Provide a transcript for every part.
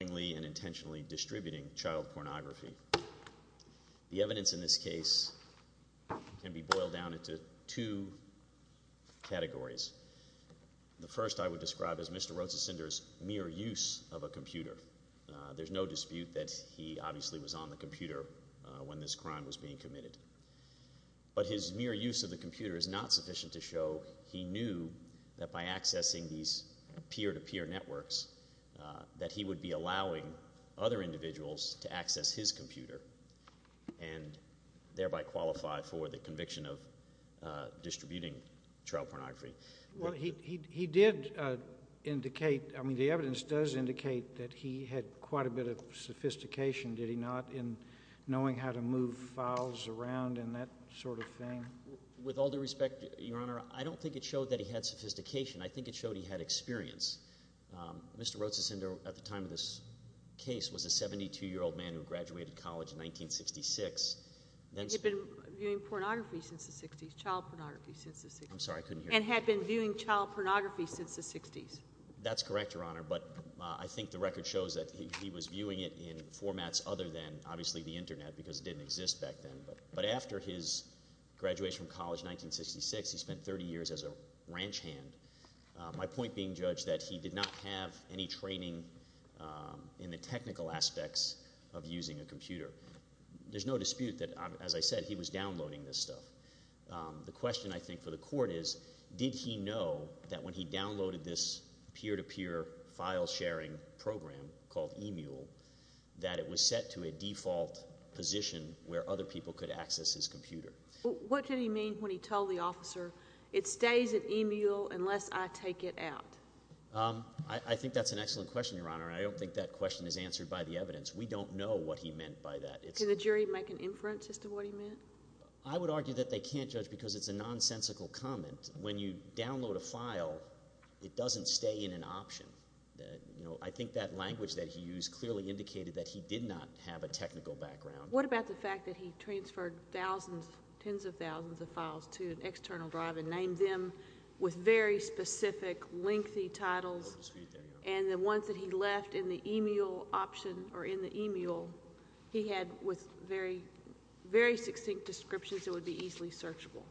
The evidence in this case can be boiled down into two categories. The first I would describe as Mr. Roetcisoender's mere use of a computer. There's no dispute that he obviously was on the computer when this crime was being committed. But his mere use of the computer is not sufficient to show he knew that by accessing these peer-to-peer networks that he would be allowing other individuals to access his computer and thereby qualify for the conviction of distributing trial pornography. Well, he did indicate – I mean the evidence does indicate that he had quite a bit of sophistication, did he not, in knowing how to move files around and that sort of thing? With all due respect, Your Honor, I don't think it showed that he had sophistication. I think it showed he had experience. Mr. Roetcisoender, at the time of this case, was a 72-year-old man who graduated college in 1966. He had been viewing pornography since the 60s, child pornography since the 60s. I'm sorry, I couldn't hear you. And had been viewing child pornography since the 60s. That's correct, Your Honor, but I think the record shows that he was viewing it in formats other than, obviously, the Internet because it didn't exist back then. But after his graduation from college in 1966, he spent 30 years as a ranch hand. My point being, Judge, that he did not have any training in the technical aspects of using a computer. There's no dispute that, as I said, he was downloading this stuff. The question, I think, for the court is did he know that when he downloaded this peer-to-peer file sharing program called eMule that it was set to a default position where other people could access his computer? What did he mean when he told the officer, it stays in eMule unless I take it out? I think that's an excellent question, Your Honor, and I don't think that question is answered by the evidence. We don't know what he meant by that. Can the jury make an inference as to what he meant? I would argue that they can't, Judge, because it's a nonsensical comment. When you download a file, it doesn't stay in an option. I think that language that he used clearly indicated that he did not have a technical background. What about the fact that he transferred thousands, tens of thousands of files to an external drive and named them with very specific lengthy titles? And the ones that he left in the eMule option or in the eMule, he had with very, very succinct descriptions that would be easily searchable.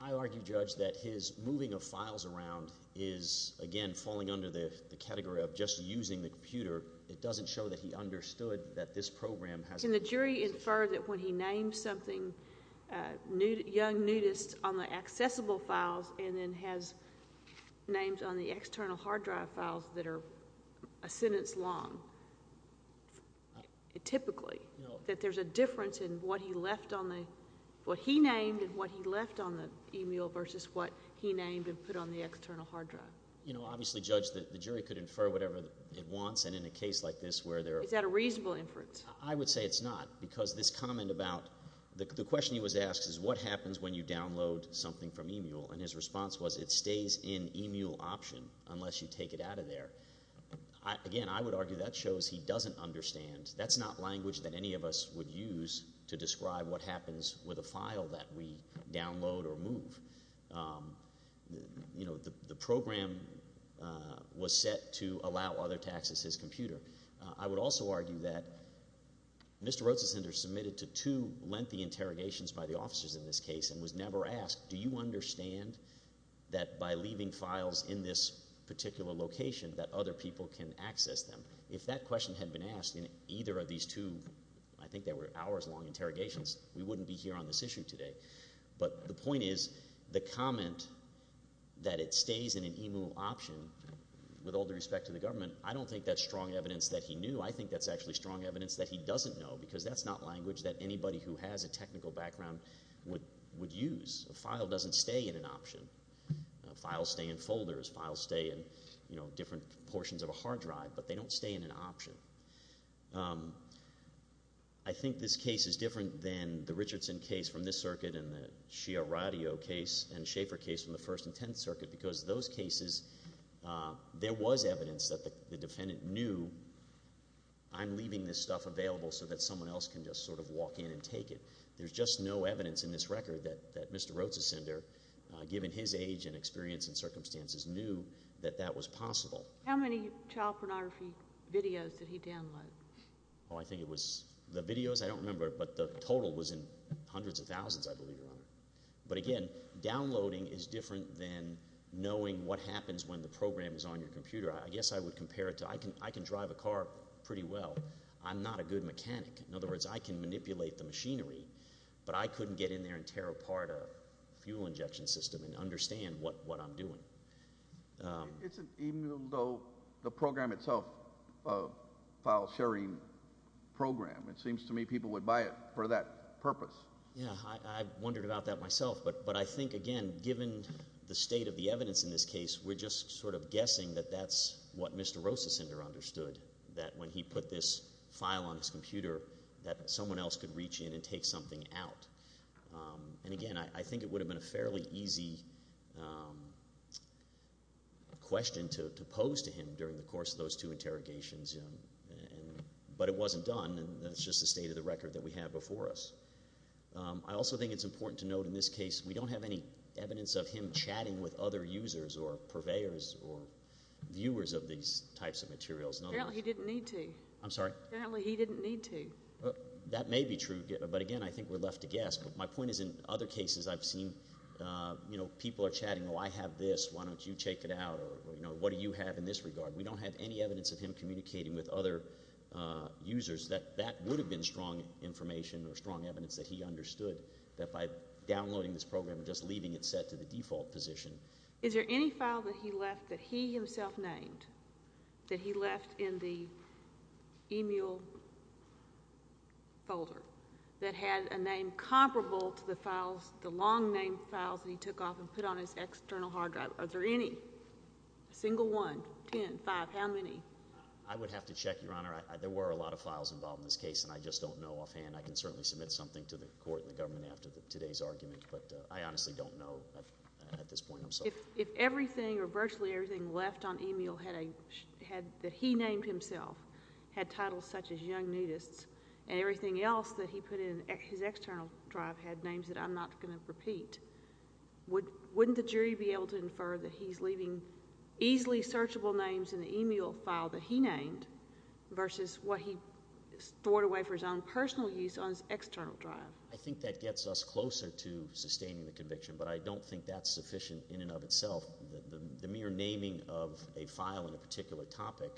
I argue, Judge, that his moving of files around is, again, falling under the category of just using the computer. It doesn't show that he understood that this program has been used. Can the jury infer that when he named something, Young noticed on the accessible files and then has names on the external hard drive files that are a sentence long, typically, that there's a difference in what he named and what he left on the eMule versus what he named and put on the external hard drive? Obviously, Judge, the jury could infer whatever it wants. And in a case like this where there are— Is that a reasonable inference? I would say it's not because this comment about the question he was asked is, what happens when you download something from eMule? And his response was it stays in eMule option unless you take it out of there. Again, I would argue that shows he doesn't understand. That's not language that any of us would use to describe what happens with a file that we download or move. The program was set to allow others to access his computer. I would also argue that Mr. Roetsesender submitted to two lengthy interrogations by the officers in this case and was never asked, do you understand that by leaving files in this particular location that other people can access them? If that question had been asked in either of these two, I think they were hours-long interrogations, we wouldn't be here on this issue today. But the point is the comment that it stays in an eMule option with all due respect to the government, I don't think that's strong evidence that he knew. I think that's actually strong evidence that he doesn't know because that's not language that anybody who has a technical background would use. A file doesn't stay in an option. Files stay in folders. Files stay in different portions of a hard drive. But they don't stay in an option. I think this case is different than the Richardson case from this circuit and the Shear Radio case and Schaefer case from the First and Tenth Circuit because those cases there was evidence that the defendant knew I'm leaving this stuff available so that someone else can just sort of walk in and take it. There's just no evidence in this record that Mr. Roetsesender, given his age and experience and circumstances, knew that that was possible. How many child pornography videos did he download? Well, I think it was the videos, I don't remember, but the total was in hundreds of thousands, I believe, Your Honor. But again, downloading is different than knowing what happens when the program is on your computer. I guess I would compare it to I can drive a car pretty well. I'm not a good mechanic. In other words, I can manipulate the machinery, but I couldn't get in there and tear apart a fuel injection system and understand what I'm doing. Even though the program itself files sharing program, it seems to me people would buy it for that purpose. Yeah, I wondered about that myself. But I think, again, given the state of the evidence in this case, we're just sort of guessing that that's what Mr. Roetsesender understood, that when he put this file on his computer that someone else could reach in and take something out. And again, I think it would have been a fairly easy question to pose to him during the course of those two interrogations. But it wasn't done, and that's just the state of the record that we have before us. I also think it's important to note in this case we don't have any evidence of him chatting with other users or purveyors or viewers of these types of materials. Apparently he didn't need to. I'm sorry? Apparently he didn't need to. That may be true, but again, I think we're left to guess. But my point is in other cases I've seen people are chatting, oh, I have this, why don't you check it out, or what do you have in this regard? We don't have any evidence of him communicating with other users. That would have been strong information or strong evidence that he understood, that by downloading this program and just leaving it set to the default position. Is there any file that he left that he himself named, that he left in the e-mail folder, that had a name comparable to the files, the long-named files that he took off and put on his external hard drive? Are there any? A single one? Ten? Five? How many? I would have to check, Your Honor. There were a lot of files involved in this case, and I just don't know offhand. I can certainly submit something to the court and the government after today's argument, but I honestly don't know at this point. If everything or virtually everything left on e-mail that he named himself had titles such as young nudists and everything else that he put in his external drive had names that I'm not going to repeat, wouldn't the jury be able to infer that he's leaving easily searchable names in the e-mail file that he named versus what he stored away for his own personal use on his external drive? I think that gets us closer to sustaining the conviction, but I don't think that's sufficient in and of itself. The mere naming of a file in a particular topic.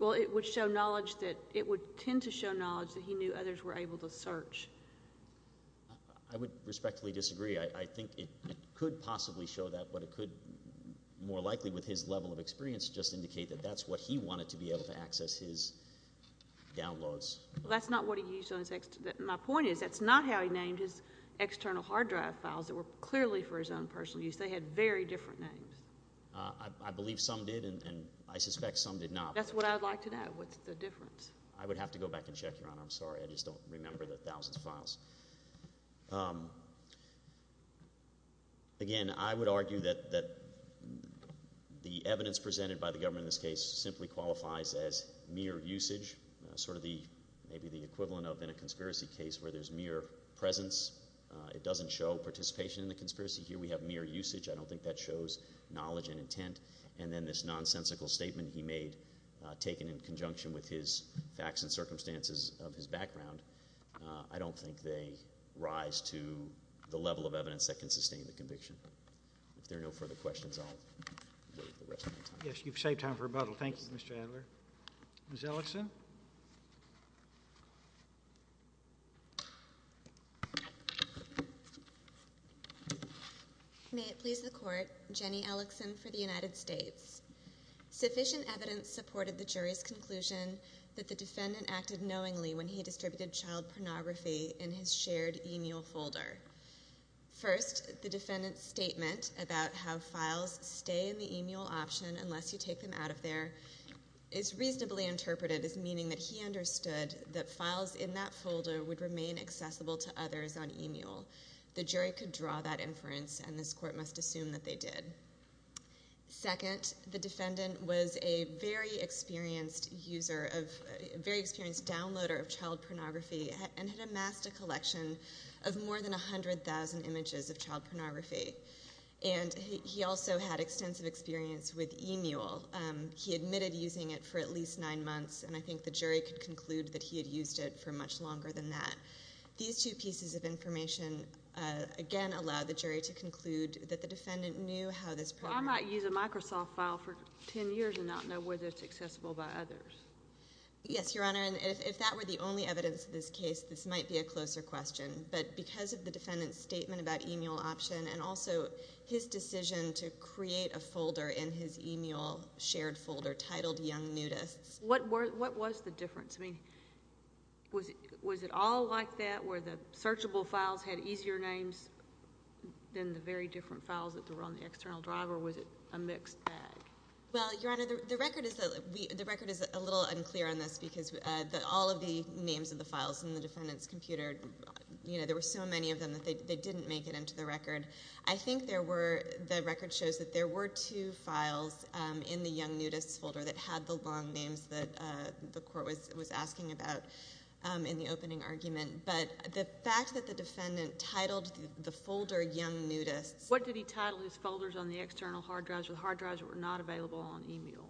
Well, it would show knowledge that it would tend to show knowledge that he knew others were able to search. I would respectfully disagree. I think it could possibly show that, but it could more likely with his level of experience just indicate that that's what he wanted to be able to access his downloads. Well, that's not what he used on his external drive. My point is that's not how he named his external hard drive files that were clearly for his own personal use. They had very different names. I believe some did, and I suspect some did not. That's what I would like to know. What's the difference? I would have to go back and check, Your Honor. I'm sorry. I just don't remember the thousands of files. Again, I would argue that the evidence presented by the government in this case simply qualifies as mere usage, sort of maybe the equivalent of in a conspiracy case where there's mere presence. It doesn't show participation in the conspiracy. Here we have mere usage. I don't think that shows knowledge and intent. And then this nonsensical statement he made taken in conjunction with his facts and circumstances of his background, I don't think they rise to the level of evidence that can sustain the conviction. If there are no further questions, I'll wait for the rest of my time. Yes, you've saved time for rebuttal. Thank you, Mr. Adler. Ms. Ellickson? May it please the Court, Jenny Ellickson for the United States. Sufficient evidence supported the jury's conclusion that the defendant acted knowingly when he distributed child pornography in his shared e-mail folder. First, the defendant's statement about how files stay in the e-mail option unless you take them out of there is reasonably interpreted as meaning that he understood that files in that folder would remain accessible to others on e-mail. The jury could draw that inference, and this Court must assume that they did. Second, the defendant was a very experienced user of, a very experienced downloader of child pornography and had amassed a collection of more than 100,000 images of child pornography, and he also had extensive experience with e-mail. He admitted using it for at least nine months, and I think the jury could conclude that he had used it for much longer than that. These two pieces of information, again, allow the jury to conclude that the defendant knew how this program Well, I might use a Microsoft file for 10 years and not know whether it's accessible by others. Yes, Your Honor, and if that were the only evidence in this case, this might be a closer question. But because of the defendant's statement about e-mail option and also his decision to create a folder in his e-mail shared folder titled Young Nudists. What was the difference? I mean, was it all like that where the searchable files had easier names than the very different files that were on the external drive, or was it a mixed bag? Well, Your Honor, the record is a little unclear on this because all of the names of the files in the defendant's computer, there were so many of them that they didn't make it into the record. I think the record shows that there were two files in the Young Nudists folder that had the long names that the court was asking about in the opening argument. But the fact that the defendant titled the folder Young Nudists What did he title his folders on the external hard drives or the hard drives that were not available on e-mail?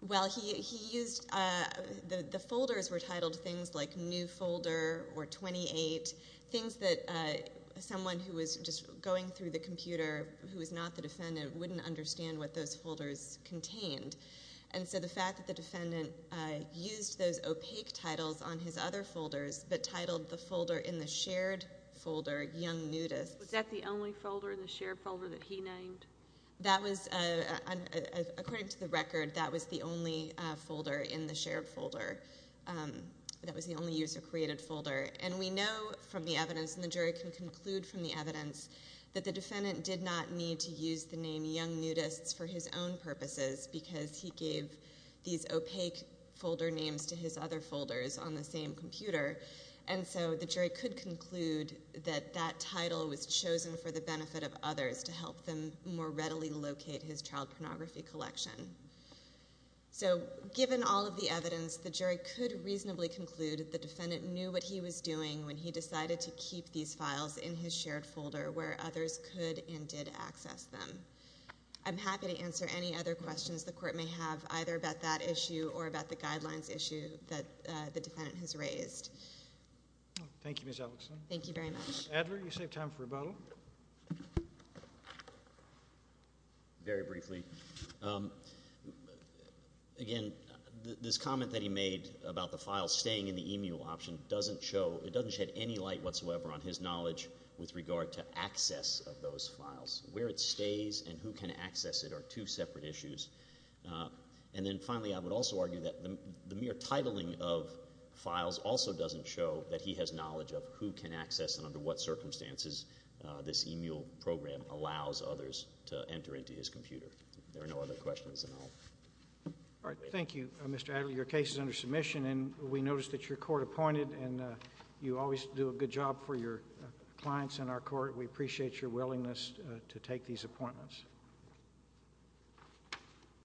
Well, the folders were titled things like New Folder or 28, things that someone who was just going through the computer who was not the defendant wouldn't understand what those folders contained. And so the fact that the defendant used those opaque titles on his other folders but titled the folder in the shared folder Young Nudists. Was that the only folder in the shared folder that he named? That was, according to the record, that was the only folder in the shared folder. That was the only user-created folder. And we know from the evidence, and the jury can conclude from the evidence, that the defendant did not need to use the name Young Nudists for his own purposes because he gave these opaque folder names to his other folders on the same computer. And so the jury could conclude that that title was chosen for the benefit of others to help them more readily locate his child pornography collection. So given all of the evidence, the jury could reasonably conclude that the defendant knew what he was doing when he decided to keep these files in his shared folder where others could and did access them. I'm happy to answer any other questions the court may have, either about that issue or about the guidelines issue that the defendant has raised. Thank you, Ms. Ellison. Thank you very much. Mr. Adler, you save time for rebuttal. Very briefly. Again, this comment that he made about the files staying in the e-mule option doesn't show, it doesn't shed any light whatsoever on his knowledge with regard to access of those files. Where it stays and who can access it are two separate issues. And then finally, I would also argue that the mere titling of files also doesn't show that he has knowledge of who can access and under what circumstances this e-mule program allows others to enter into his computer. There are no other questions at all. All right. Thank you, Mr. Adler. Your case is under submission, and we noticed that your court appointed, and you always do a good job for your clients in our court. We appreciate your willingness to take these appointments.